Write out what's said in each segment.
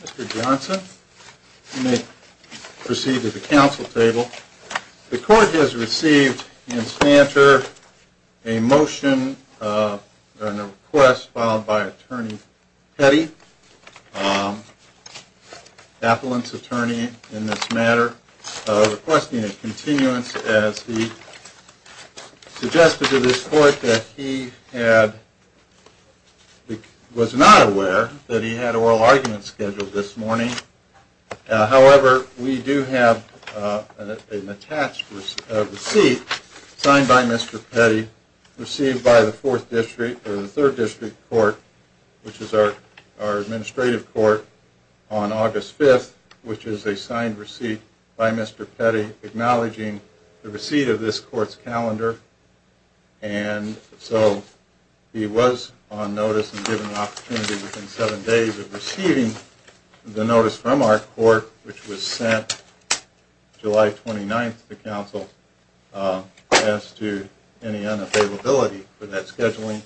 Mr. Johnson, you may proceed to the council table. The court has received in Spancher a motion, a request, filed by Attorney Petty. Appellant's attorney in this matter, requesting a continuance as he suggested to this court that he was not aware that he had oral arguments scheduled this morning. However, we do have an attached receipt signed by Mr. Petty, received by the 3rd District Court, which is our administrative court, on August 5th, which is a signed receipt by Mr. Petty acknowledging the receipt of this court's calendar. And so, he was on notice and given an opportunity within 7 days of receiving the notice from our court, which was sent July 29th to council as to any unavailability for that scheduling.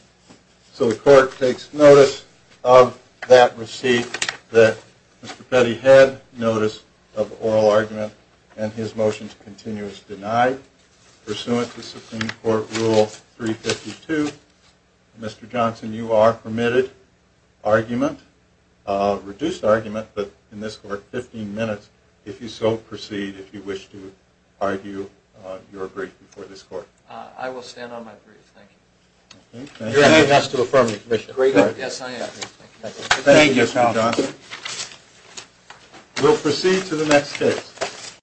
So, the court takes notice of that receipt that Mr. Petty had notice of oral argument and his motion to continue is denied. Pursuant to Supreme Court Rule 352, Mr. Johnson, you are permitted argument, reduced argument, but in this court, 15 minutes, if you so proceed, if you wish to argue your brief before this court. I will stand on my brief. Thank you. You're asked to affirm your brief. Yes, I am. Thank you, Mr. Johnson. We'll proceed to the next case.